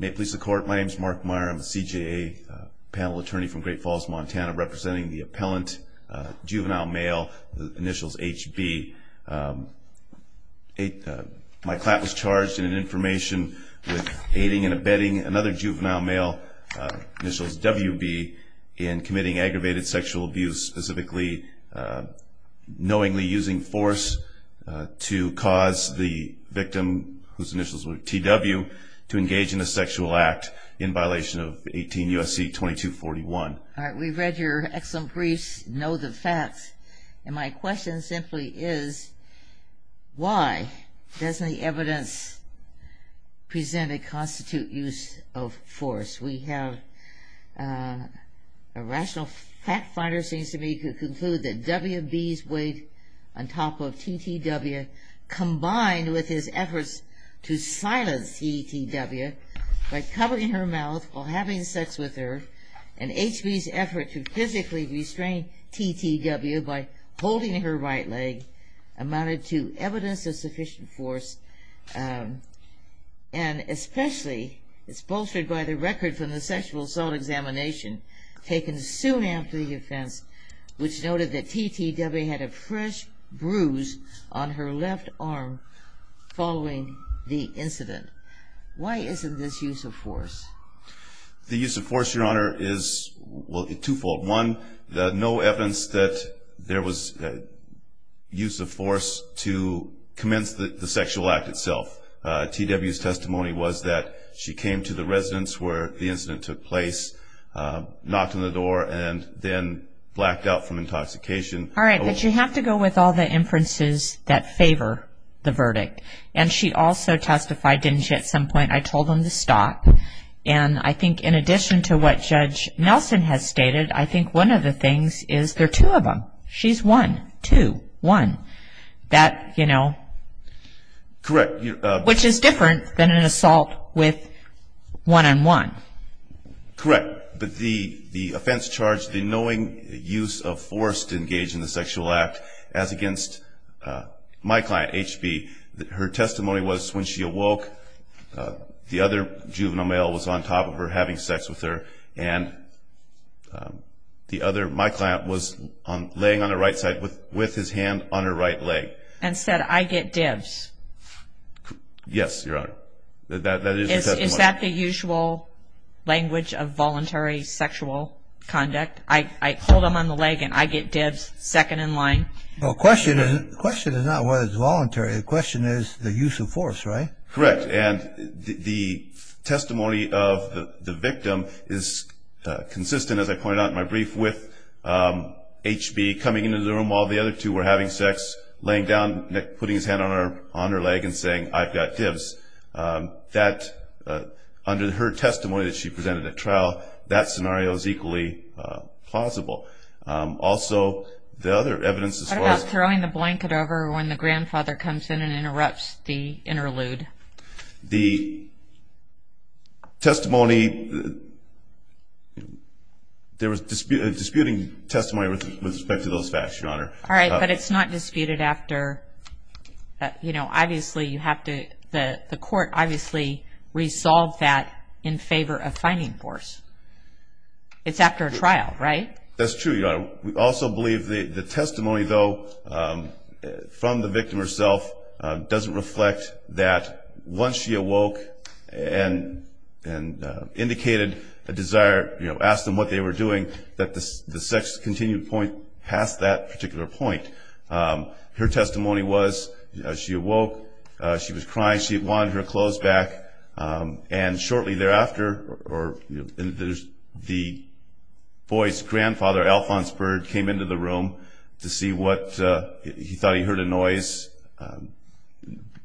May it please the court, my name is Mark Meyer, I'm a CJA panel attorney from Great Falls, Montana, representing the appellant Juvenile Male, initials HB. My client was charged in an information with aiding and abetting another Juvenile Male, initials WB, in committing aggravated sexual abuse, specifically knowingly using force to cause the victim, whose initials were TW, to engage in a sexual act in violation of 18 U.S.C. 2241. Alright, we've read your excellent briefs, know the facts, and my question simply is, why doesn't the evidence present a constitute use of force? We have a rational fact finder seems to me to conclude that WB's weight on top of TTW, combined with his efforts to silence TTW by covering her mouth while having sex with her, and HB's effort to physically restrain TTW by holding her right leg, amounted to evidence of sufficient force, and especially, it's bolstered by the record from the sexual assault examination, taken soon after the offense, which noted that TTW had a fresh bruise on her left arm following the incident. Why isn't this use of force? The use of force, Your Honor, is two-fold. One, there's no evidence that there was use of force to commence the sexual act itself. TW's testimony was that she came to the residence where the incident took place, knocked on the door, and then blacked out from intoxication. All right, but you have to go with all the inferences that favor the verdict. And she also testified, didn't she, at some point, I told them to stop. And I think in addition to what Judge Nelson has stated, I think one of the things is there are two of them. She's one, two, one. That, you know. Correct. Which is different than an assault with one-on-one. Correct. But the offense charged the knowing use of force to engage in the sexual act, as against my client, HB. Her testimony was when she awoke, the other juvenile male was on top of her having sex with her, and my client was laying on her right side with his hand on her right leg. And said, I get divs. Yes, Your Honor. Is that the usual language of voluntary sexual conduct? I hold him on the leg and I get divs second in line? The question is not whether it's voluntary. The question is the use of force, right? Correct. And the testimony of the victim is consistent, as I pointed out in my brief, with HB coming into the room while the other two were having sex, laying down, putting his hand on her leg and saying, I've got divs. That, under her testimony that she presented at trial, that scenario is equally plausible. Also, the other evidence as far as... What about throwing the blanket over when the grandfather comes in and interrupts the interlude? The testimony, there was disputing testimony with respect to those facts, Your Honor. All right, but it's not disputed after, you know, obviously you have to, the court obviously resolved that in favor of finding force. It's after a trial, right? That's true, Your Honor. We also believe the testimony, though, from the victim herself doesn't reflect that once she awoke and indicated a desire, you know, asked them what they were doing, that the sex continued past that particular point. Her testimony was she awoke, she was crying, she wanted her clothes back. And shortly thereafter, the boy's grandfather, Alphonse Byrd, came into the room to see what... He thought he heard a noise. The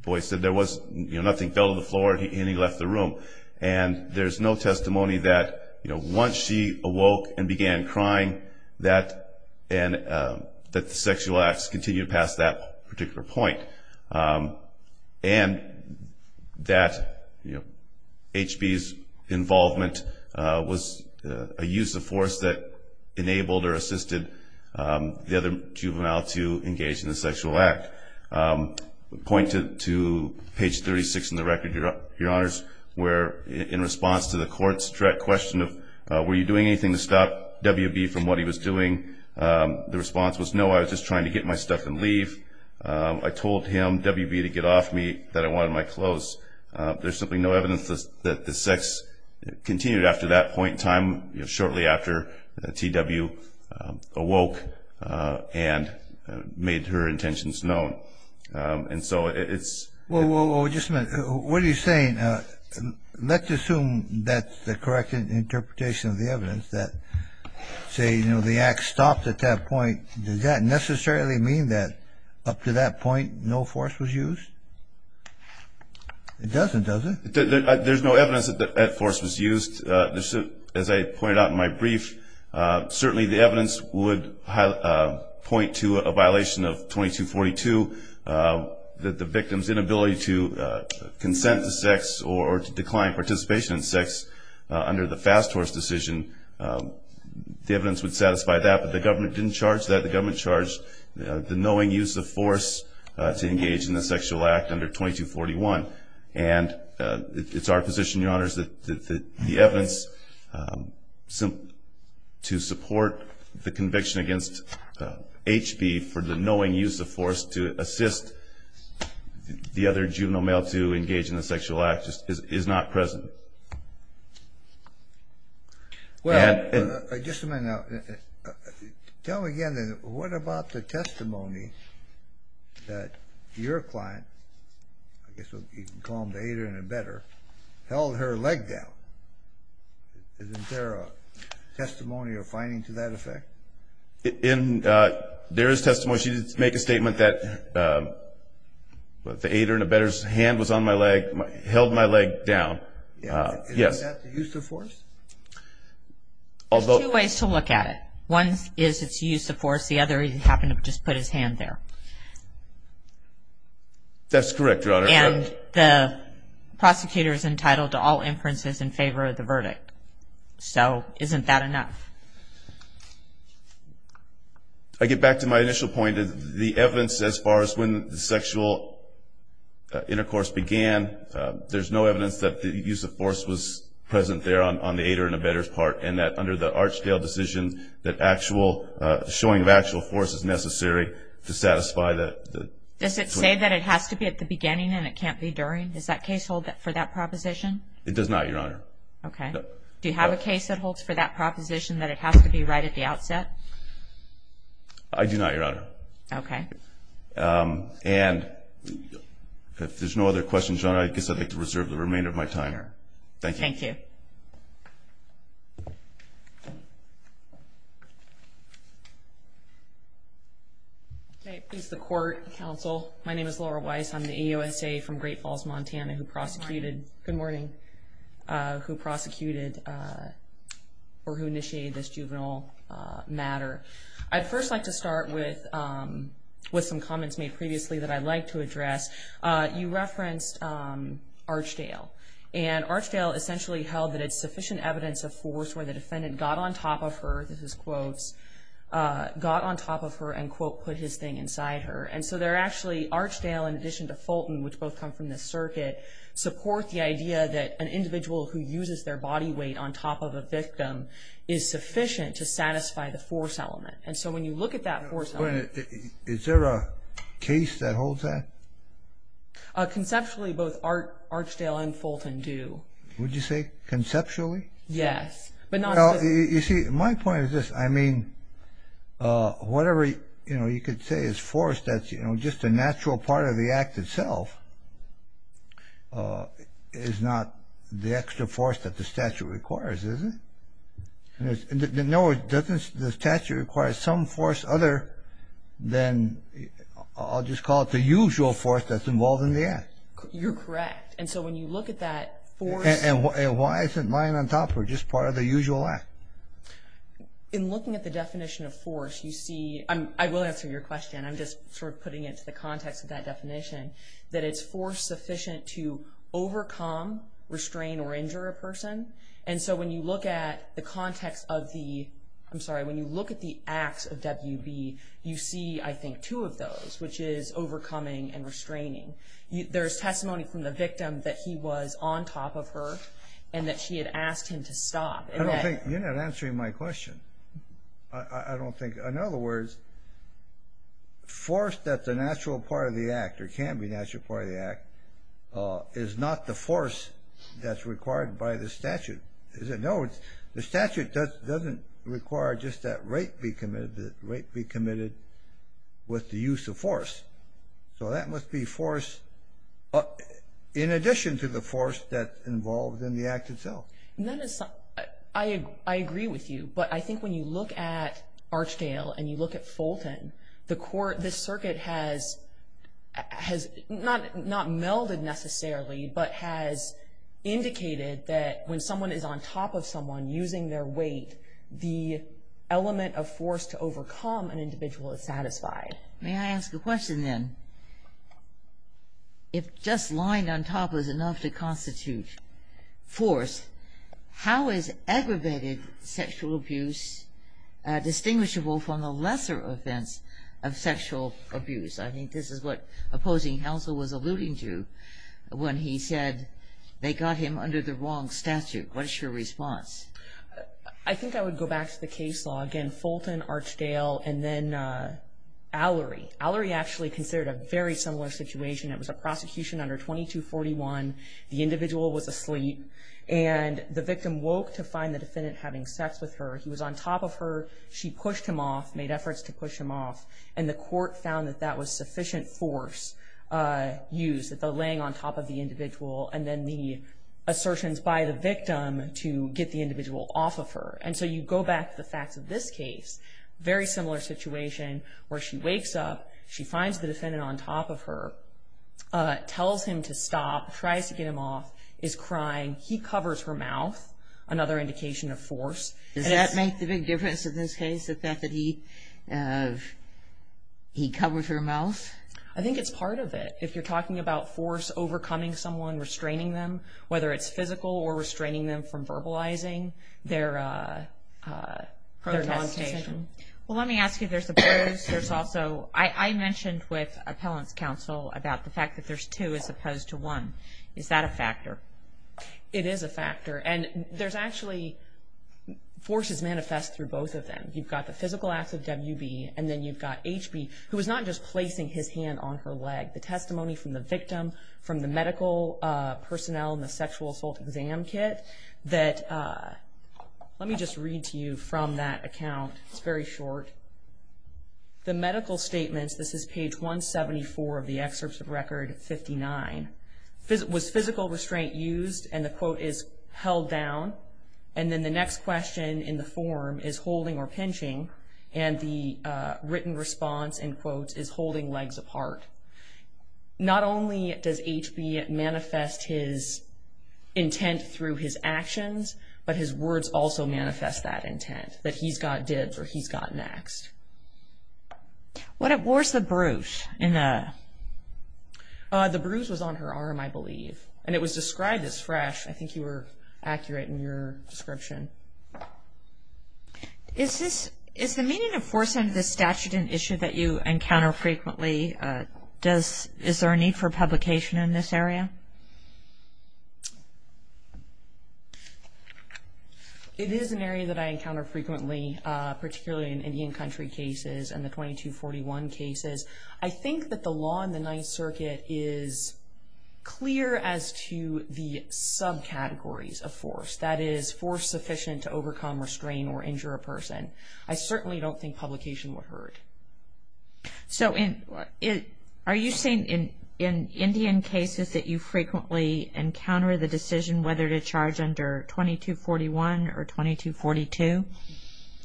boy said there was nothing, fell to the floor, and he left the room. And there's no testimony that, you know, once she awoke and began crying, that the sexual acts continued past that particular point. And that, you know, HB's involvement was a use of force that enabled or assisted the other juvenile to engage in the sexual act. Point to page 36 in the record, Your Honors, where in response to the court's direct question of, were you doing anything to stop WB from what he was doing, the response was, no, I was just trying to get my stuff and leave. I told him, WB, to get off me, that I wanted my clothes. There's simply no evidence that the sex continued after that point in time, shortly after TW awoke and made her intentions known. And so it's... Well, just a minute. What are you saying? Let's assume that's the correct interpretation of the evidence, that, say, you know, the act stopped at that point. Does that necessarily mean that up to that point no force was used? It doesn't, does it? There's no evidence that that force was used. As I pointed out in my brief, certainly the evidence would point to a violation of 2242, that the victim's inability to consent to sex or to decline participation in sex under the fast horse decision. The evidence would satisfy that, but the government didn't charge that. The government charged the knowing use of force to engage in the sexual act under 2241. And it's our position, Your Honors, that the evidence to support the conviction against HB for the knowing use of force to assist the other juvenile male to engage in the sexual act is not present. Well, just a minute now. Tell me again, then, what about the testimony that your client, I guess you can call him the hater and embedder, held her leg down? Isn't there a testimony or finding to that effect? There is testimony. She did make a statement that the hater and embedder's hand was on my leg, held my leg down. Yes. Isn't that the use of force? There's two ways to look at it. One is it's use of force. The other is he happened to just put his hand there. That's correct, Your Honor. And the prosecutor is entitled to all inferences in favor of the verdict. So isn't that enough? I get back to my initial point. The evidence as far as when the sexual intercourse began, there's no evidence that the use of force was present there on the hater and embedder's part, and that under the Archdale decision that actual showing of actual force is necessary to satisfy that. Does it say that it has to be at the beginning and it can't be during? Does that case hold for that proposition? It does not, Your Honor. Okay. Do you have a case that holds for that proposition that it has to be right at the outset? I do not, Your Honor. Okay. And if there's no other questions, Your Honor, I guess I'd like to reserve the remainder of my time. Thank you. Thank you. Okay. Please, the court, counsel. My name is Laura Weiss. I'm the EOSA from Great Falls, Montana, who prosecuted or who initiated this juvenile matter. I'd first like to start with some comments made previously that I'd like to address. You referenced Archdale. And Archdale essentially held that it's sufficient evidence of force where the defendant got on top of her, this is quotes, got on top of her and, quote, put his thing inside her. And so they're actually, Archdale in addition to Fulton, which both come from the circuit, support the idea that an individual who uses their body weight on top of a victim is sufficient to satisfy the force element. And so when you look at that force element. Is there a case that holds that? Conceptually, both Archdale and Fulton do. Would you say conceptually? Yes. Well, you see, my point is this. I mean, whatever, you know, you could say is force that's, you know, just a natural part of the act itself is not the extra force that the statute requires, is it? No, the statute requires some force other than, I'll just call it the usual force that's involved in the act. You're correct. And so when you look at that force. And why isn't lying on top of her just part of the usual act? In looking at the definition of force, you see, I will answer your question, I'm just sort of putting it into the context of that definition, that it's force sufficient to overcome, restrain, or injure a person. And so when you look at the context of the, I'm sorry, when you look at the acts of WB, you see, I think, two of those, which is overcoming and restraining. There's testimony from the victim that he was on top of her and that she had asked him to stop. I don't think, you're not answering my question. I don't think, in other words, force that's a natural part of the act or can be a natural part of the act is not the force that's required by the statute. No, the statute doesn't require just that rape be committed, that rape be committed with the use of force. So that must be force in addition to the force that's involved in the act itself. I agree with you, but I think when you look at Archdale and you look at Fulton, this circuit has not melded necessarily, but has indicated that when someone is on top of someone using their weight, the element of force to overcome an individual is satisfied. May I ask a question then? If just lying on top is enough to constitute force, how is aggravated sexual abuse distinguishable from the lesser offense of sexual abuse? I think this is what opposing counsel was alluding to when he said they got him under the wrong statute. What is your response? I think I would go back to the case law. Again, Fulton, Archdale, and then Allery. Allery actually considered a very similar situation. It was a prosecution under 2241. The individual was asleep, and the victim woke to find the defendant having sex with her. He was on top of her. She pushed him off, made efforts to push him off, and the court found that that was sufficient force used, the laying on top of the individual and then the assertions by the victim to get the individual off of her. And so you go back to the facts of this case, very similar situation, where she wakes up, she finds the defendant on top of her, tells him to stop, tries to get him off, is crying. He covers her mouth, another indication of force. Does that make the big difference in this case, the fact that he covers her mouth? I think it's part of it. If you're talking about force overcoming someone, restraining them, whether it's physical or restraining them from verbalizing their non-station. Well, let me ask you, there's the pros. There's also, I mentioned with appellant's counsel about the fact that there's two as opposed to one. Is that a factor? It is a factor, and there's actually forces manifest through both of them. You've got the physical acts of WB, and then you've got HB, who is not just placing his hand on her leg. The testimony from the victim, from the medical personnel in the sexual assault exam kit, that, let me just read to you from that account. It's very short. The medical statements, this is page 174 of the excerpt of record 59. Was physical restraint used? And the quote is, held down. And then the next question in the form is holding or pinching, and the written response, in quotes, is holding legs apart. Not only does HB manifest his intent through his actions, but his words also manifest that intent, that he's got dibs or he's got next. Where's the bruise? The bruise was on her arm, I believe, and it was described as fresh. I think you were accurate in your description. Is the meaning of force under this statute an issue that you encounter frequently? Is there a need for publication in this area? It is an area that I encounter frequently, particularly in Indian Country cases and the 2241 cases. I think that the law in the Ninth Circuit is clear as to the subcategories of force. That is, force sufficient to overcome, restrain, or injure a person. I certainly don't think publication would hurt. So are you saying in Indian cases that you frequently encounter the decision whether to charge under 2241 or 2242?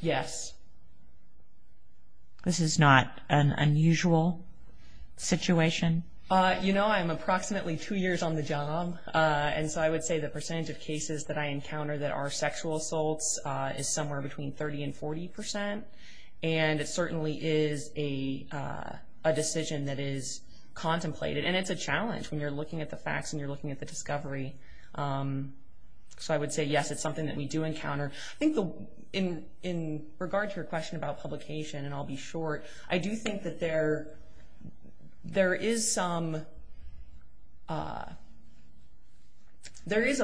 Yes. This is not an unusual situation? You know, I'm approximately two years on the job, and so I would say the percentage of cases that I encounter that are sexual assaults is somewhere between 30% and 40%, and it certainly is a decision that is contemplated. And it's a challenge when you're looking at the facts and you're looking at the discovery. So I would say, yes, it's something that we do encounter. I think in regard to your question about publication, and I'll be short, I do think that there is some, there is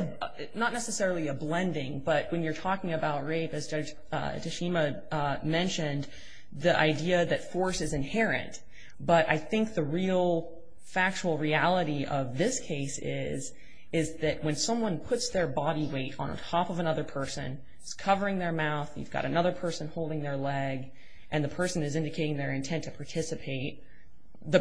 not necessarily a blending, but when you're talking about rape, as Judge Tashima mentioned, the idea that force is inherent. But I think the real factual reality of this case is that when someone puts their body weight on top of another person, it's covering their mouth, you've got another person holding their leg, and the person is indicating their intent to participate. The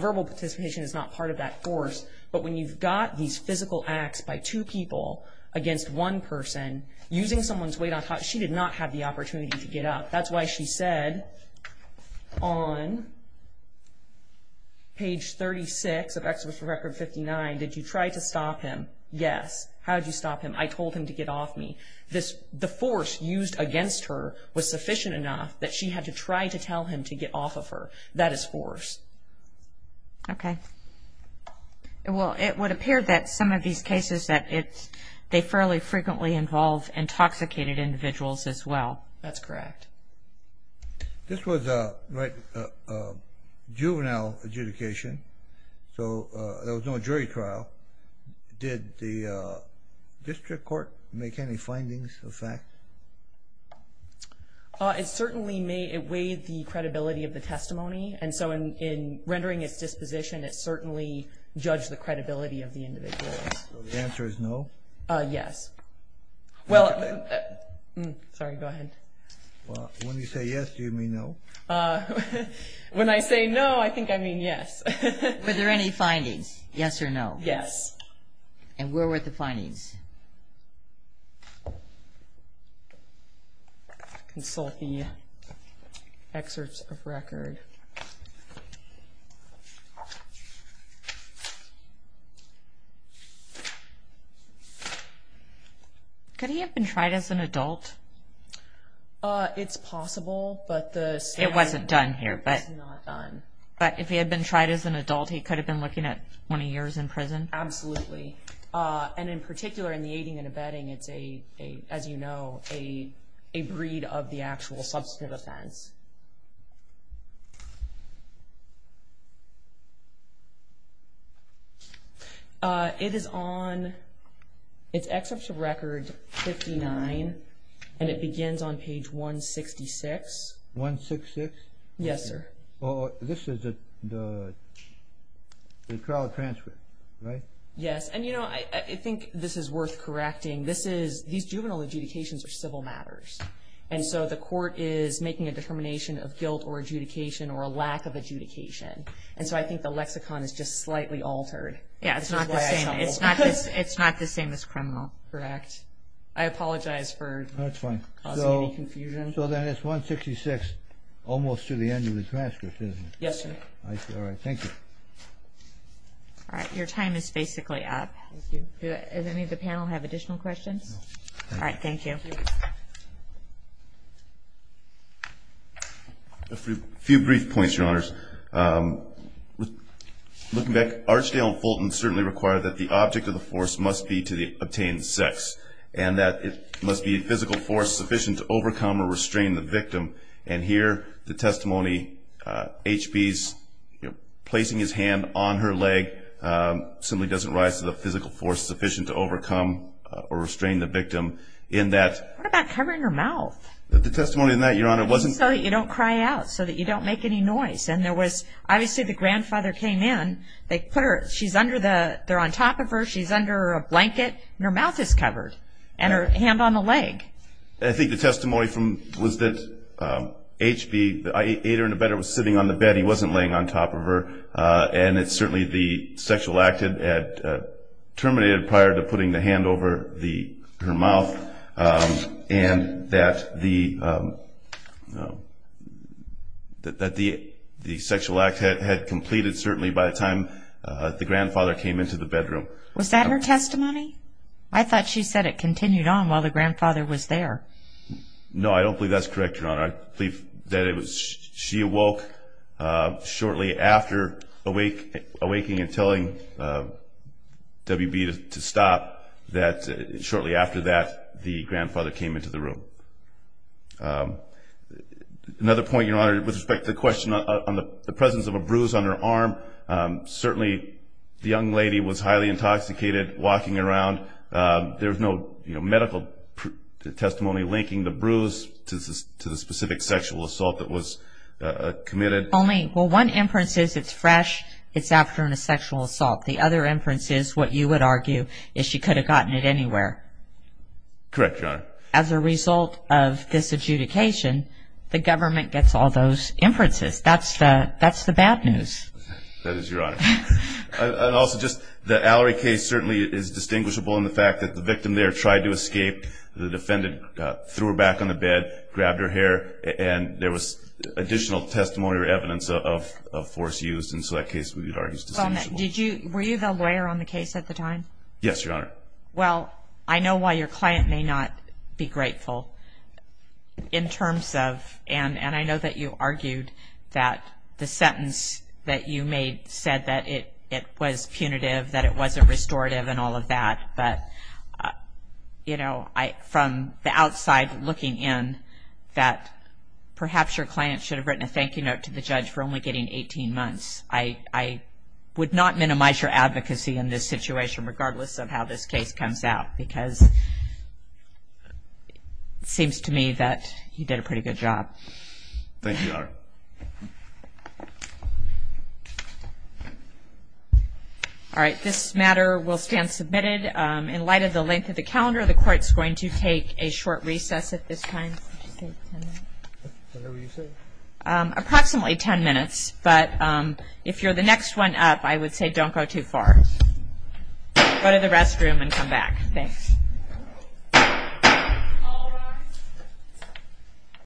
verbal participation is not part of that force, but when you've got these physical acts by two people against one person, using someone's weight on top, she did not have the opportunity to get up. That's why she said on page 36 of Exhibition Record 59, did you try to stop him? Yes. How did you stop him? I told him to get off me. The force used against her was sufficient enough that she had to try to tell him to get off of her. That is force. Okay. Well, it would appear that some of these cases, that they fairly frequently involve intoxicated individuals as well. That's correct. This was a juvenile adjudication, so there was no jury trial. Did the district court make any findings of fact? It certainly weighed the credibility of the testimony, and so in rendering its disposition, it certainly judged the credibility of the individual. So the answer is no? Yes. Sorry, go ahead. When you say yes, do you mean no? When I say no, I think I mean yes. Were there any findings, yes or no? Yes. And where were the findings? Consult the excerpts of record. Could he have been tried as an adult? It's possible, but the standard is not done. But if he had been tried as an adult, he could have been looking at 20 years in prison? Absolutely. And in particular, in the aiding and abetting, it's a, as you know, a breed of the actual substantive offense. It is on, it's excerpts of record 59, and it begins on page 166. 166? Yes, sir. This is the trial transfer, right? Yes, and, you know, I think this is worth correcting. This is, these juvenile adjudications are civil matters, and so the court is making a determination of guilt or adjudication or a lack of adjudication, and so I think the lexicon is just slightly altered. Yes, it's not the same as criminal. Correct. I apologize for causing any confusion. So then it's 166 almost to the end of his transcript, isn't it? Yes, sir. All right, thank you. All right, your time is basically up. Thank you. Does any of the panel have additional questions? No. All right, thank you. A few brief points, Your Honors. Looking back, Archdale and Fulton certainly required that the object of the force must be to obtain sex and that it must be a physical force sufficient to overcome or restrain the victim. And here the testimony, H.B.'s placing his hand on her leg simply doesn't rise to the physical force sufficient to overcome or restrain the victim in that. What about covering her mouth? The testimony on that, Your Honor, wasn't. Just so that you don't cry out, so that you don't make any noise. And there was, obviously the grandfather came in, they put her, she's under the, they're on top of her, she's under a blanket, and her mouth is covered and her hand on the leg. I think the testimony was that H.B., I ate her in the bed, I was sitting on the bed, he wasn't laying on top of her, and it's certainly the sexual act had terminated prior to putting the hand over her mouth and that the sexual act had completed certainly by the time the grandfather came into the bedroom. Was that her testimony? I thought she said it continued on while the grandfather was there. No, I don't believe that's correct, Your Honor. I believe that it was she awoke shortly after awaking and telling W.B. to stop, that shortly after that the grandfather came into the room. Another point, Your Honor, with respect to the question on the presence of a bruise on her arm, certainly the young lady was highly intoxicated, walking around, there was no medical testimony linking the bruise to the specific sexual assault that was committed. Only, well, one inference is it's fresh, it's after a sexual assault. The other inference is what you would argue is she could have gotten it anywhere. Correct, Your Honor. As a result of this adjudication, the government gets all those inferences. That's the bad news. That is your honor. Also, just the Allery case certainly is distinguishable in the fact that the victim there tried to escape. The defendant threw her back on the bed, grabbed her hair, and there was additional testimony or evidence of force used, and so that case we would argue is distinguishable. Were you the lawyer on the case at the time? Yes, Your Honor. Well, I know why your client may not be grateful in terms of, and I know that you argued that the sentence that you made said that it was punitive, that it wasn't restorative and all of that. But, you know, from the outside looking in, that perhaps your client should have written a thank you note to the judge for only getting 18 months. I would not minimize your advocacy in this situation, regardless of how this case comes out, because it seems to me that you did a pretty good job. Thank you, Your Honor. All right, this matter will stand submitted. In light of the length of the calendar, the Court is going to take a short recess at this time. Approximately ten minutes, but if you're the next one up, I would say don't go too far. Go to the restroom and come back. Thanks.